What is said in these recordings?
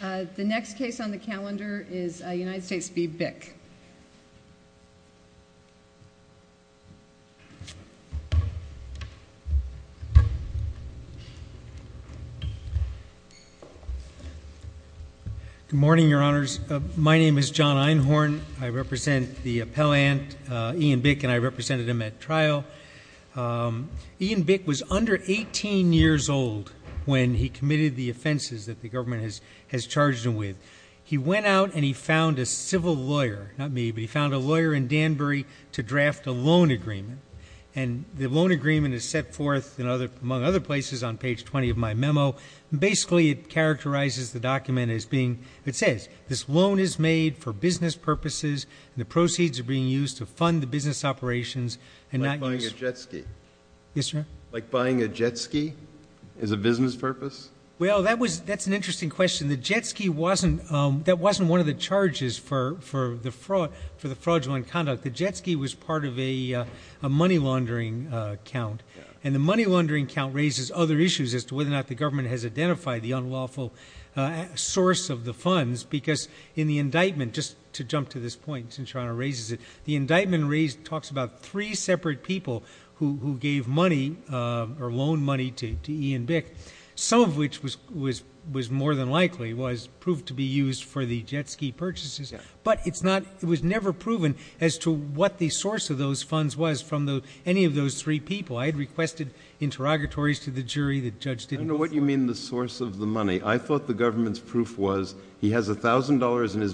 Good morning, your honors. My name is John Einhorn. I represent the appellant Ian Bick and I represented him at trial. Ian Bick was under 18 years old when he committed the offenses that the government has charged him with. He went out and he found a civil lawyer, not me, but he found a lawyer in Danbury to draft a loan agreement. The loan agreement is set forth among other places on page 20 of my memo. Basically it characterizes the document as being, it says, this loan is made for business purposes and the proceeds are being used to fund the business operations. Like buying a jet ski? Yes, sir. Like buying a jet ski as a business purpose? Well, that was, that's an interesting question. The jet ski wasn't, um, that wasn't one of the charges for, for the fraud, for the fraudulent conduct. The jet ski was part of a money laundering account and the money laundering account raises other issues as to whether or not the government has identified the unlawful source of the funds. Because in the indictment, just to jump to this point, since Your Honor raises it, the indictment raised talks about three separate people who, who gave money or loan money to Ian Bick. Some of which was, was, was more than likely was proved to be used for the jet ski purchases. But it's not, it was never proven as to what the source of those funds was from the, any of those three people. I had requested interrogatories to the jury, the judge didn't. I don't know what you mean the source of the money. I thought the government's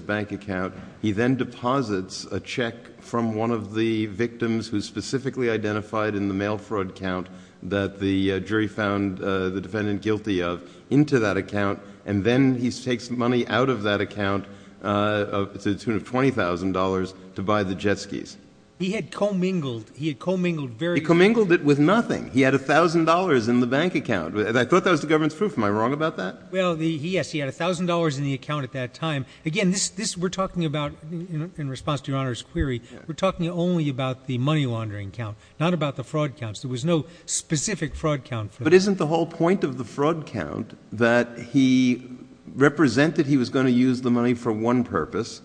bank account. He then deposits a check from one of the victims who specifically identified in the mail fraud count that the jury found the defendant guilty of into that account. And then he takes money out of that account, uh, to the tune of $20,000 to buy the jet skis. He had commingled, he had commingled very... He commingled it with nothing. He had a thousand dollars in the bank account. I thought that was the government's proof. Am I wrong about that? Well, yes, he had a thousand dollars in the account at that time. Again, this, this we're talking about in response to your Honor's query, we're talking only about the money laundering count, not about the fraud counts. There was no specific fraud count. But isn't the whole point of the fraud count that he represented he was going to use the money for one purpose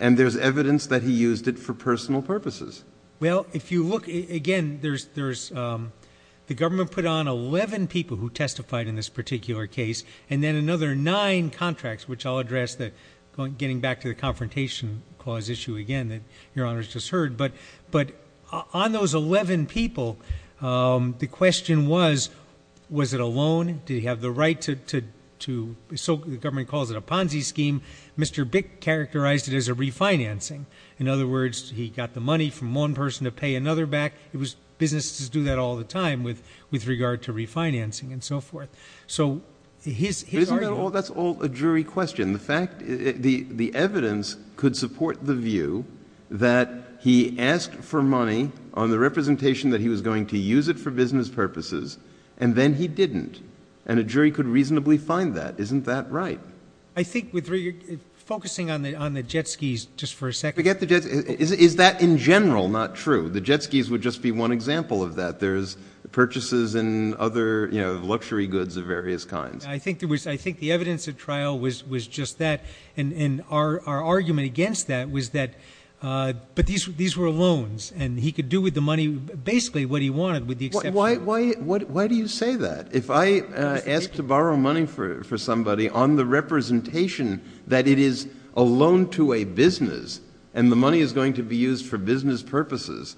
and there's evidence that he used it for personal purposes? Well, if you look again, there's, there's, um, the government put on 11 people who testified in this particular case. And then another nine contracts, which I'll address that going, getting back to the confrontation clause issue again, that your Honor's just heard. But, but on those 11 people, um, the question was, was it a loan? Did he have the right to, to, to soak, the government calls it a Ponzi scheme. Mr. Bick characterized it as a refinancing. In other words, he got the money from one person to pay another back. It was businesses do that all the time with, with regard to refinancing and so forth. So his, his, that's all a jury question. The fact the, the evidence could support the view that he asked for money on the representation that he was going to use it for business purposes. And then he didn't. And a jury could reasonably find that. Isn't that right? I think with focusing on the, on the jet skis, just for a second, forget the jets. Is that in general, not true? The jet skis would just be one example of that. There's purchases and other luxury goods of various kinds. I think there was, I think the evidence of trial was, was just that. And, and our, our argument against that was that, uh, but these, these were loans and he could do with the money, basically what he wanted with the exception. Why, why, why do you say that? If I asked to borrow money for, for somebody on the representation that it is a loan to a business and the money is going to be used for business purposes.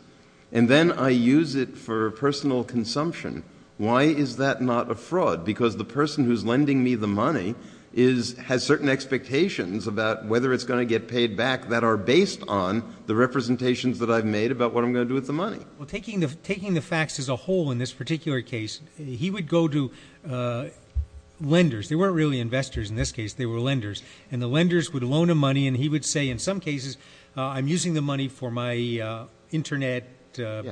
And then I use it for personal consumption. Why is that not a fraud? Because the person who's lending me the money is, has certain expectations about whether it's going to get paid back that are based on the representations that I've made about what I'm going to do with the money. Well, taking the, taking the facts as a whole in this particular case, he would go to, uh, lenders. They weren't really investors in this case. They were lenders and the lenders would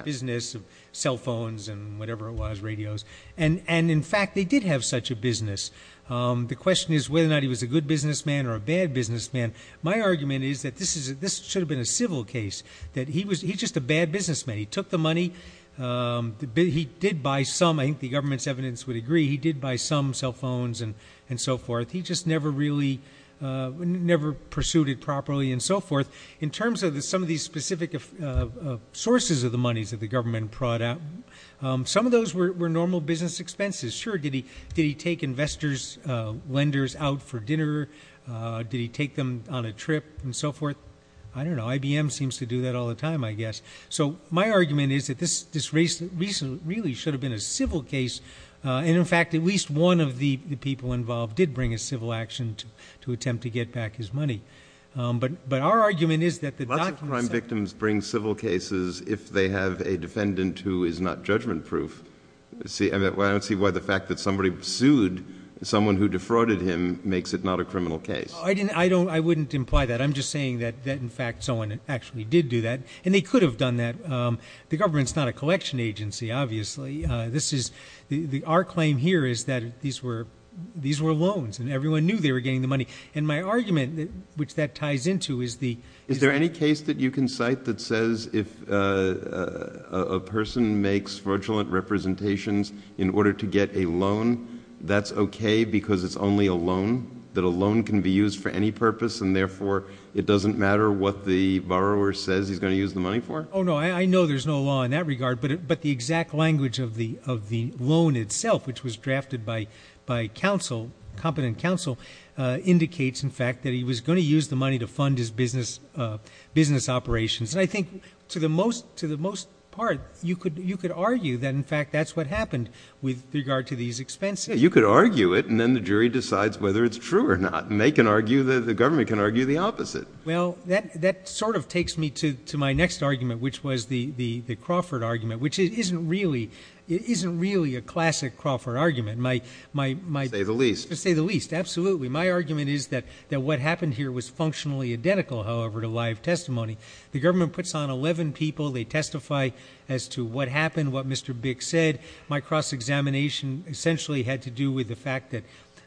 business of cell phones and whatever it was, radios. And, and in fact, they did have such a business. Um, the question is whether or not he was a good businessman or a bad businessman. My argument is that this is, this should have been a civil case that he was, he just a bad businessman. He took the money. Um, he did buy some, I think the government's evidence would agree. He did buy some cell phones and, and so forth. He just never really, uh, never pursued it properly and so forth in terms of the, some of these specific, uh, sources of the monies that the government brought out. Um, some of those were normal business expenses. Sure. Did he, did he take investors, uh, lenders out for dinner? Uh, did he take them on a trip and so forth? I don't know. IBM seems to do that all the time, I guess. So my argument is that this, this race recently really should have been a civil case. Uh, and in fact, at least one of the people involved did bring a civil action to, to attempt to get back his money. Um, but, but our argument is that the crime victims bring civil cases if they have a defendant who is not judgment proof. See, I don't see why the fact that somebody sued someone who defrauded him makes it not a criminal case. I didn't, I don't, I wouldn't imply that. I'm just saying that, that in fact, someone actually did do that and they could have done that. Um, the government's not a collection agency, obviously. Uh, this is the, the, our claim here is that these were, these were loans and everyone knew they were getting the money. And my argument that, which that ties into is the, is there any case that you can cite that says if, uh, a person makes fraudulent representations in order to get a loan, that's okay because it's only a loan that alone can be used for any purpose. And therefore it doesn't matter what the borrower says he's going to use the money for. No, I know there's no law in that regard, but, but the exact language of the, of the loan itself, which was drafted by, by counsel, competent counsel, uh, indicates in fact that he was going to use the money to fund his business, uh, business operations. And I think to the most, to the most part, you could, you could argue that in fact, that's what happened with regard to these expenses. You could argue it. And then the jury decides whether it's true or not. And they can argue that the government can argue the opposite. Well, that, that sort of takes me to, to my next argument, which was the, the, the Crawford argument, which isn't really, it isn't really a classic Crawford argument. My, my, my say the least to say the least. Absolutely. My argument is that, that what happened here was functionally identical. However, to live testimony, the government puts on 11 people. They testify as to what happened, what Mr. Bick said. My cross-examination essentially had to do with the fact that,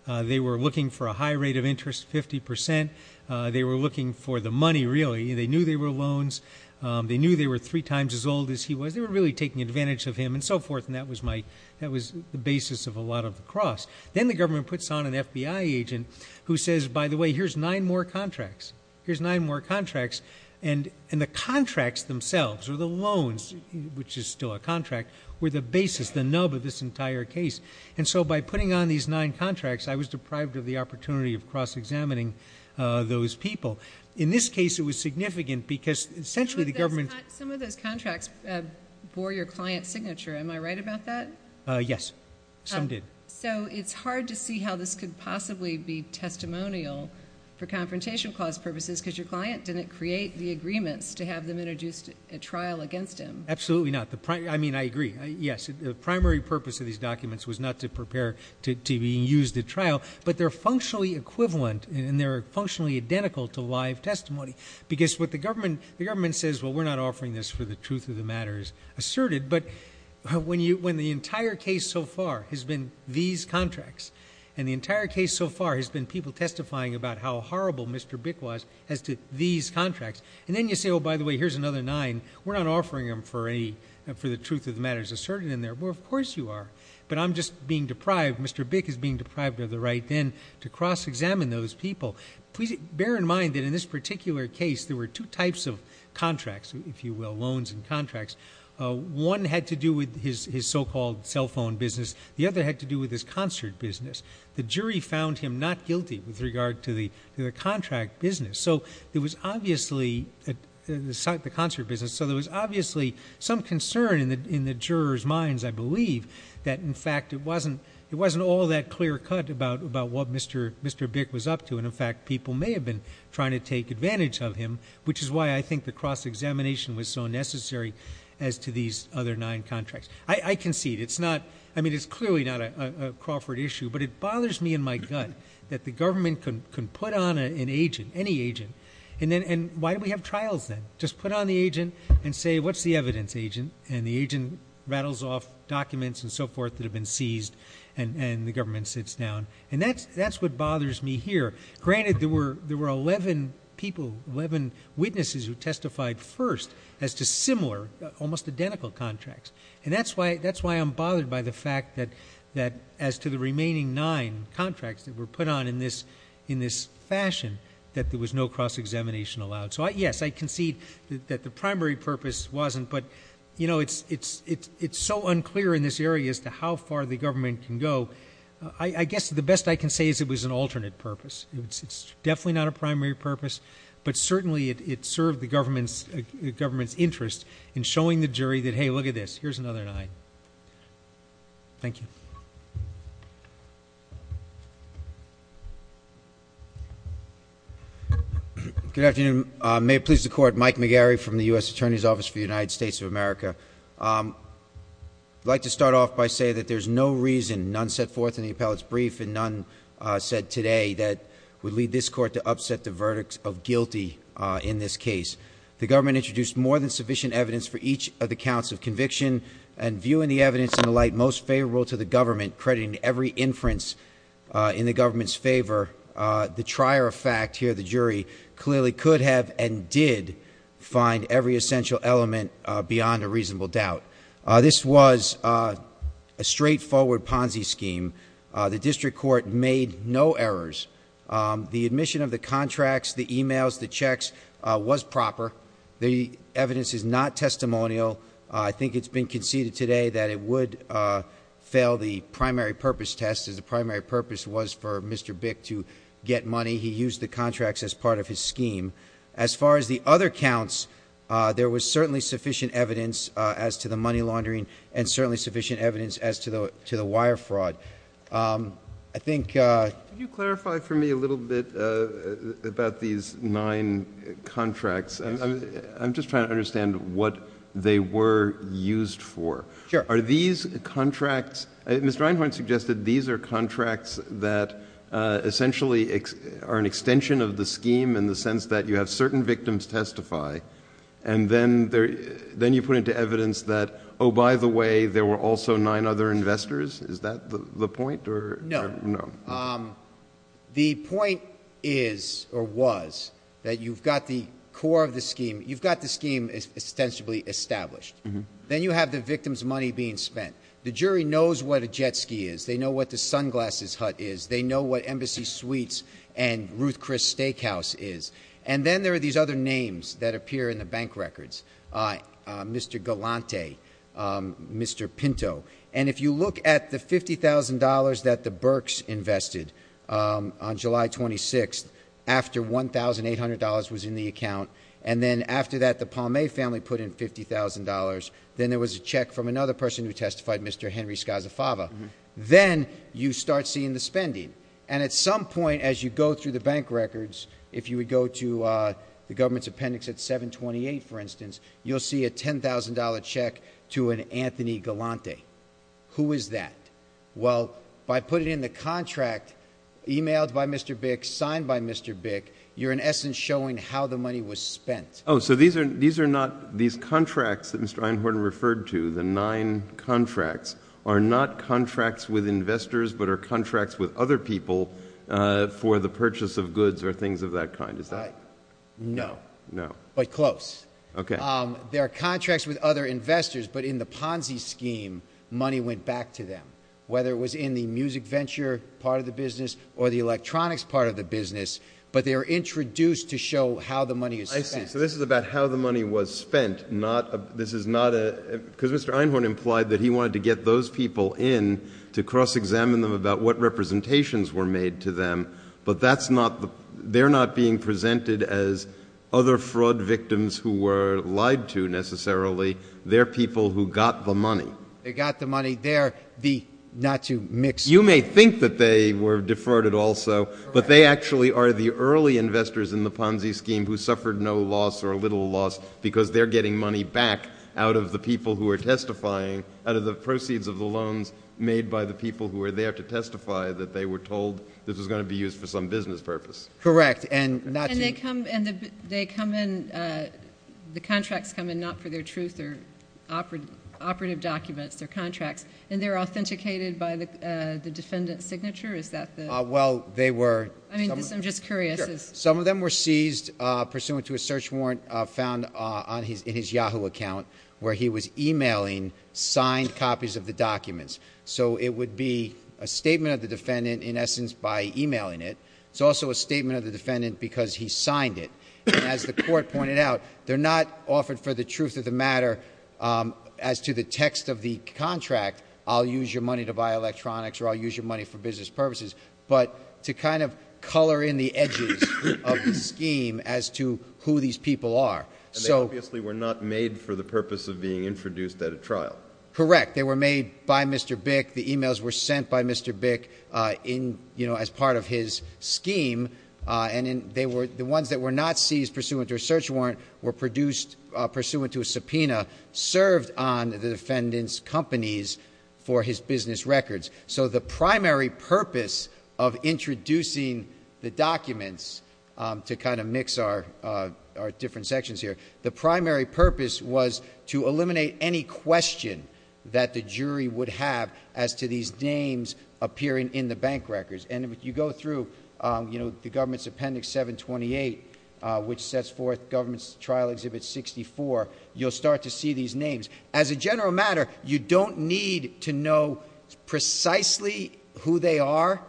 uh, they were looking for a high rate of interest, 50%. Uh, they were looking for the money. Really. They knew they were loans. Um, they knew they were three times as old as he was. They were really taking advantage of him and so forth. And that was my, that was the basis of a lot of the cross. Then the government puts on an FBI agent who says, by the way, here's nine more contracts. Here's nine more contracts. And, and the contracts themselves are the loans, which is still a contract where the basis, the nub of this entire case. And so by putting on these nine contracts, I was deprived of the opportunity of cross-examining, uh, those people. In this case, it was significant because essentially the government. Some of those contracts, uh, bore your client signature. Am I right about that? Uh, yes. Some did. So it's hard to see how this could possibly be testimonial for confrontation clause purposes, because your client didn't create the agreements to have them introduced a trial against him. Absolutely not the prime. I mean, I agree. Yes. The primary purpose of these documents was not to prepare to TV and use the trial, but they're functionally equivalent and they're functionally identical to live testimony because what the government, the government says, well, we're not offering this for the truth of the matters asserted. But when you, when the entire case so far has been these contracts and the entire case so far has been people testifying about how horrible Mr. Bic was as to these contracts. And then you say, oh, by the way, here's another nine. We're not offering them for a, for the truth of the matters asserted in there. Well, of course you are, but I'm just being deprived. Mr. Bic is being deprived of the right then to cross-examine those people. Please bear in mind that in this particular case, there were two types of contracts, if you will, loans and contracts. Uh, one had to do with his, his so-called cell phone business. The other had to do with his concert business. The jury found him not guilty with regard to the, to the contract business. So there was obviously at the site, the concert business. So there was obviously some concern in the, in the juror's minds, I believe that in fact, it wasn't, it wasn't all that clear cut about, about what Mr. Mr. Bic was up to. And in fact, people may have been trying to take advantage of him, which is why I think the cross-examination was so necessary as to these other nine contracts. I concede it's not, I mean, it's clearly not a Crawford issue, but it bothers me in my gut that the government can put on an agent, any agent, and then, and why do we have trials then just put on the agent and say, what's the evidence agent? And the agent rattles off documents and so forth that have been seized and the government sits down. And that's, that's what bothers me here. Granted, there were, there were 11 people, 11 witnesses who testified first as to similar, almost identical contracts. And that's why, that's why I'm bothered by the that as to the remaining nine contracts that were put on in this, in this fashion, that there was no cross-examination allowed. So I, yes, I concede that the primary purpose wasn't, but you know, it's, it's, it's, it's so unclear in this area as to how far the government can go. I guess the best I can say is it was an alternate purpose. It's definitely not a primary purpose, but certainly it served the government's government's interest in showing the jury that, hey, look at this, here's another nine. Thank you. Good afternoon. May it please the court, Mike McGarry from the U.S. Attorney's Office for the United States of America. I'd like to start off by saying that there's no reason, none set forth in the appellate's brief and none said today that would lead this court to upset the verdicts of The government introduced more than sufficient evidence for each of the counts of conviction and viewing the evidence in the light most favorable to the government, crediting every inference in the government's favor, the trier of fact here, the jury, clearly could have and did find every essential element beyond a reasonable doubt. This was a straightforward Ponzi scheme. The district court made no errors. The admission of the contracts, the emails, the checks was proper. The evidence is not testimonial. I think it's been conceded today that it would fail the primary purpose test as the primary purpose was for Mr. Bick to get money. He used the contracts as part of his scheme. As far as the other counts, there was certainly sufficient evidence as to the money laundering and certainly sufficient evidence as to the wire fraud. I think Could you clarify for me a little bit about these nine contracts? I'm just trying to understand what they were used for. Are these contracts, Mr. Einhorn suggested these are contracts that essentially are an extension of the scheme in the sense that you have certain victims testify and then you put into evidence that, oh, by the way, there were also nine other investors. Is that the point? No. The point is or was that you've got the core of the scheme. You've got the scheme ostensibly established. Then you have the victim's money being spent. The jury knows what a jet ski is. They know what the sunglasses hut is. They know what Embassy Suites and Ruth Chris Steakhouse is. Then there are these other names that appear in the bank records. Mr. Galante, Mr. Pinto. If you look at the $50,000 that the Burks invested on July 26th after $1,800 was in the account. Then after that, the Palme family put in $50,000. Then there was a check from another person who testified, Mr. Henry Scazzafava. Then you start seeing the spending. At some point as you go through the bank records, if you would go to the government's appendix at 728, for instance, you'll see a $10,000 check to an Anthony Galante. Who is that? Well, by putting in the contract emailed by Mr. Bick, signed by Mr. Bick, you're in essence showing how the money was spent. Oh, so these are not these contracts that Mr. Einhorn referred to, the nine contracts are not contracts with investors, but are contracts with other people for the purchase of goods or things of that kind. Is that right? No, but close. There are contracts with other investors, but in the Ponzi scheme, money went back to them, whether it was in the music venture part of the business or the electronics part of the business, but they were introduced to show how the money is spent. So this is about how the money was spent. Because Mr. Einhorn implied that he wanted to get those people in to cross-examine them about what representations were made to them, but they're not being presented as other fraud victims who were lied to, necessarily. They're people who got the money. They got the money. They're the, not to mix... You may think that they were defrauded also, but they actually are the early investors in the Ponzi scheme who suffered no loss or little loss because they're getting money back out of the people who are testifying, out of the proceeds of the loans made by the people who were there to testify that they were told this was going to be used for some business purpose. Correct, and not to... And they come in, the contracts come in not for their truth or operative documents, their contracts, and they're authenticated by the defendant's signature? Is that the... Well, they were... I'm just curious. Some of them were seized pursuant to a search warrant found in his Yahoo account where he was emailing signed copies of the documents. So it would be a statement of the defendant, in essence, by emailing it. It's also a statement of the defendant because he signed it. And as the court pointed out, they're not offered for the truth of the matter as to the text of the contract, I'll use your money to buy electronics or I'll use your money for business purposes, but to kind of color in the edges of the scheme as to who these people are. And they obviously were not made for the purpose of being introduced at a trial. Correct. They were made by Mr. Bick. The emails were sent by Mr. Bick as part of his scheme. And the ones that were not seized pursuant to a search warrant were produced pursuant to a subpoena served on the defendant's companies for his business records. So the primary purpose was to eliminate any question that the jury would have as to these names appearing in the bank records. And if you go through the government's appendix 728, which sets forth government's trial exhibit 64, you'll start to see these names. As a general matter, you don't need to know precisely who they are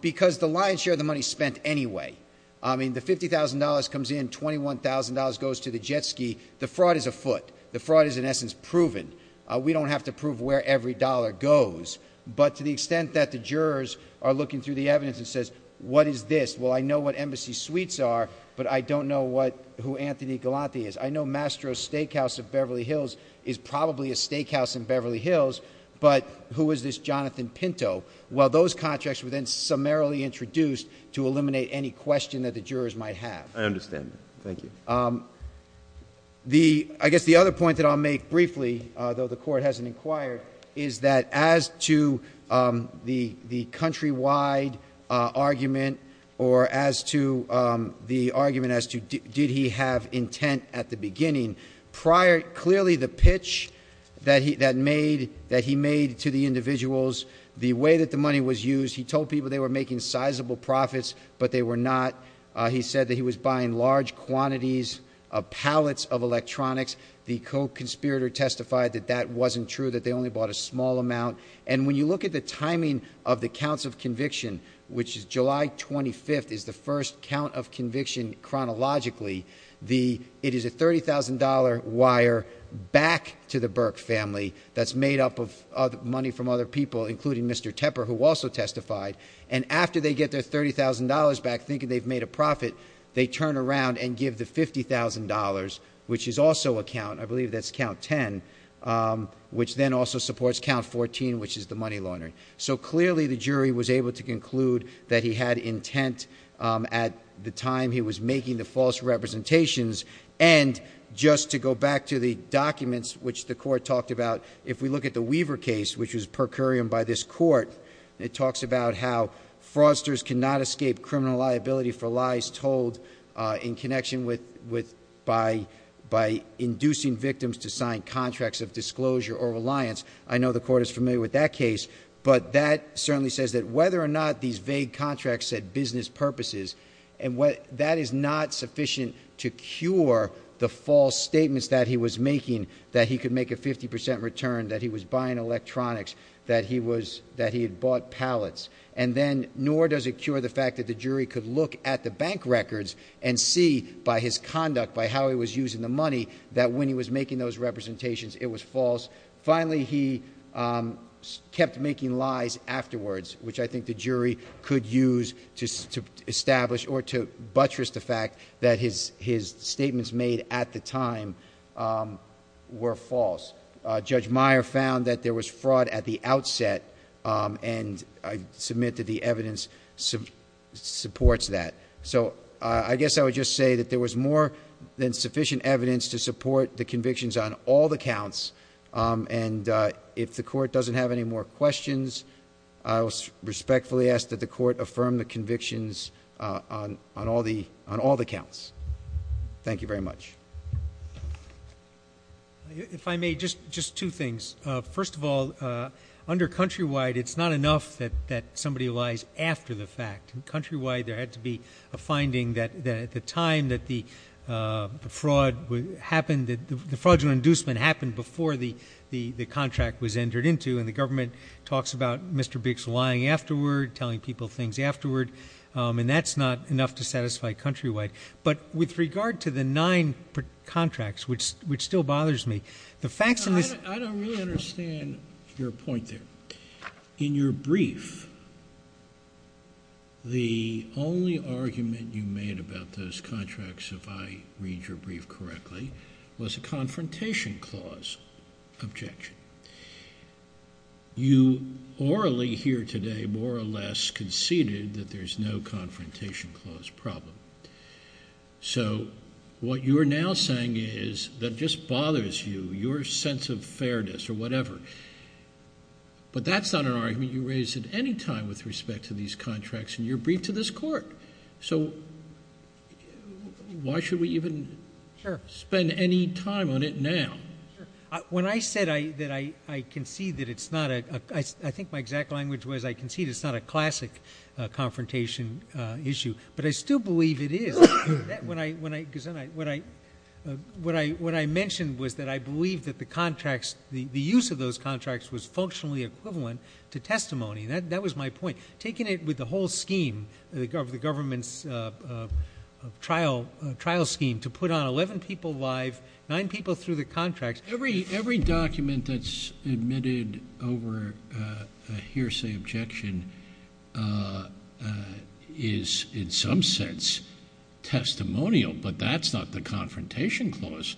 because the lion's share of the money is spent anyway. I mean, the $50,000 comes in, $21,000 goes to the jet ski. The fraud is afoot. The fraud is, in essence, proven. We don't have to prove where every dollar goes. But to the extent that the jurors are looking through the evidence and says, what is this? Well, I know what Embassy Suites are, but I don't know who Anthony Galante is. I know Mastro's Steakhouse of Beverly Hills is probably a steakhouse in Beverly Hills, but who is this Jonathan Pinto? Well, those contracts were then summarily introduced to eliminate any question that the jurors might have. I understand that. Thank you. I guess the other point that I'll make briefly, though the court hasn't inquired, is that as to the countrywide argument or as to the argument as to did he have intent at the beginning, clearly the pitch that he made to the individuals, the way that the money was used, he told people they were making sizable profits, but they were not. He said that he was buying large quantities of pallets of electronics. The co-conspirator testified that that wasn't true, that they only bought a small amount. And when you look at the timing of the counts of conviction, which is July 25th, is the first count of conviction chronologically. It is a $30,000 wire back to the Burke family that's made up of money from other people, including Mr. Tepper, who also testified. And after they get their $30,000 back, thinking they've made a profit, they turn around and give the $50,000, which is also a count. I believe that's count 10, which then also supports count 14, which is the money laundering. So clearly the jury was able to conclude that he had intent at the time he was making the false representations. And just to go back to the documents, which the court talked about, if we look at the Weaver case, which was per curiam by this court, it talks about how fraudsters cannot escape criminal liability for lies told in connection with by inducing victims to sign contracts of disclosure or reliance. I know the court is familiar with that case, but that certainly says that whether or not these vague contracts set business purposes, that is not sufficient to cure the false statements that he was making, that he could make a 50% return, that he was buying electronics, that he had bought pallets. And then nor does it cure the fact that the jury could look at the bank records and see by his conduct, by how he was using the money, that when he was making those representations, it was false. Finally, he kept making lies afterwards, which I think the jury could use to establish or to buttress the fact that his statements made at the time were false. Judge Meyer found that there was fraud at the outset, and I submit that the evidence supports that. So I guess I would just say that there was more than sufficient evidence to support the convictions on all the counts. And if the court doesn't have any more questions, I respectfully ask that the court affirm the convictions on all the counts. Thank you very much. If I may, just two things. First of all, under Countrywide, it's not enough that somebody lies after the fact. In Countrywide, there had to be a finding that at the time that the fraud happened, that the fraudulent inducement happened before the contract was entered into, and the government talks about Mr. Biggs lying afterward, telling people things afterward, and that's not enough to satisfy Countrywide. But with regard to the nine contracts, which still bothers me, the facts in this— I don't really understand your point there. In your brief, the only argument you made about those contracts, if I read your brief correctly, was a confrontation clause objection. You orally here today more or less conceded that there's no confrontation clause problem. So what you're now saying is that just bothers you, your sense of time with respect to these contracts in your brief to this court. So why should we even spend any time on it now? When I said that I concede that it's not a— I think my exact language was, I concede it's not a classic confrontation issue, but I still believe it is. What I mentioned was that I believe that the contracts, the use of those contracts, was functionally equivalent to testimony. That was my point. Taking it with the whole scheme, the government's trial scheme to put on 11 people live, nine people through the contracts— Every document that's admitted over a hearsay objection is in some sense testimonial, but that's not the confrontation clause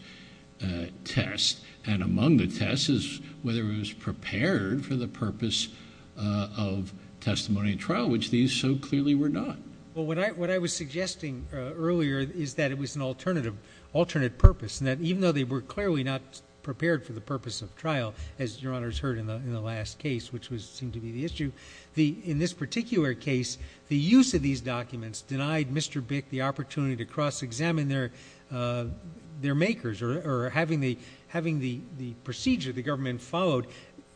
test. And among the tests is whether it was prepared for the purpose of testimony and trial, which these so clearly were not. Well, what I was suggesting earlier is that it was an alternate purpose, and that even though they were clearly not prepared for the purpose of trial, as Your Honor's heard in the last case, which seemed to be the issue, in this particular case, the use of these documents denied Mr. Bick the opportunity to cross-examine their makers or having the procedure the government followed.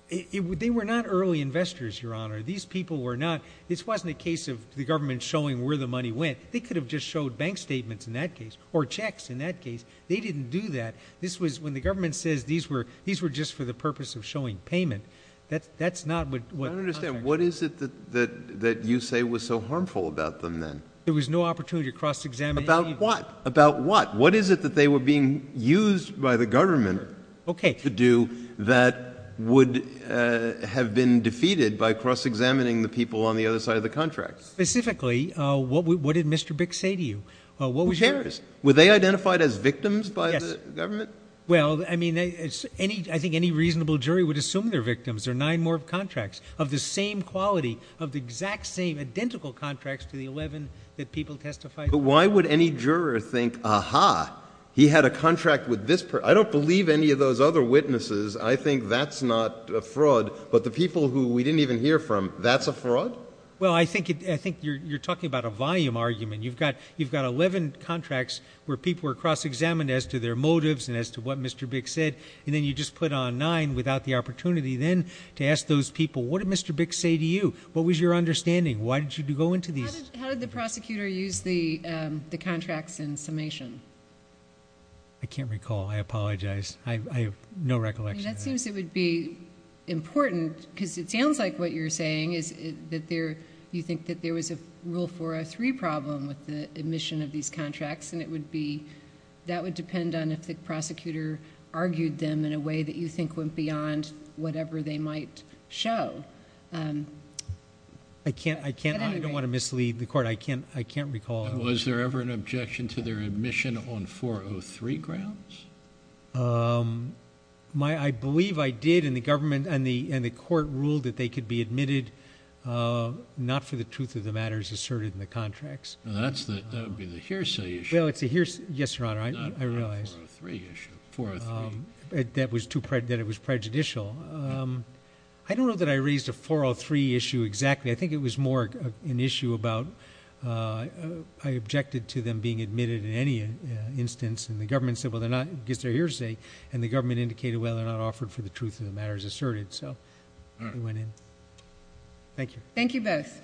They were not early investors, Your Honor. These people were not—this wasn't a case of the government showing where the money went. They could have just showed bank statements in that case or checks in that case. They didn't do that. When the government says these were just for the purpose of showing payment, that's not what— I don't understand. What is it that you say was so harmful about them then? There was no opportunity to cross-examine— About what? About what? What is it that they were being used by the government to do that would have been defeated by cross-examining the people on the other side of the contract? Specifically, what did Mr. Bick say to you? Who cares? Were they identified as victims by the government? Well, I mean, I think any reasonable jury would assume they're victims. There are nine more contracts of the same quality, of the exact same identical contracts to the 11 that people Why would any juror think, aha, he had a contract with this person? I don't believe any of those other witnesses. I think that's not a fraud. But the people who we didn't even hear from, that's a fraud? Well, I think you're talking about a volume argument. You've got 11 contracts where people were cross-examined as to their motives and as to what Mr. Bick said, and then you just put on nine without the opportunity then to ask those people, what did Mr. Bick say to you? What was your understanding? Why did you go into these? How did the prosecutor use the contracts in summation? I can't recall. I apologize. I have no recollection. That seems it would be important because it sounds like what you're saying is that there, you think that there was a Rule 403 problem with the admission of these contracts and it would be, that would depend on if the prosecutor argued them in a way that you think went beyond whatever they might show. I don't want to mislead the court. I can't recall. Was there ever an objection to their admission on 403 grounds? I believe I did and the government and the court ruled that they could be admitted not for the truth of the matters asserted in the contracts. That would be the hearsay issue. Well, it's a hearsay. Yes, Your Honor. I realize. Not the 403 issue. 403. That was too, that it was prejudicial. I don't know that I raised a 403 issue exactly. I think it was more an issue about, I objected to them being admitted in any instance and the government said, well, they're not, I guess they're hearsay and the government indicated, well, they're not offered for the truth of the matters asserted. So they went in. Thank you. Thank you both.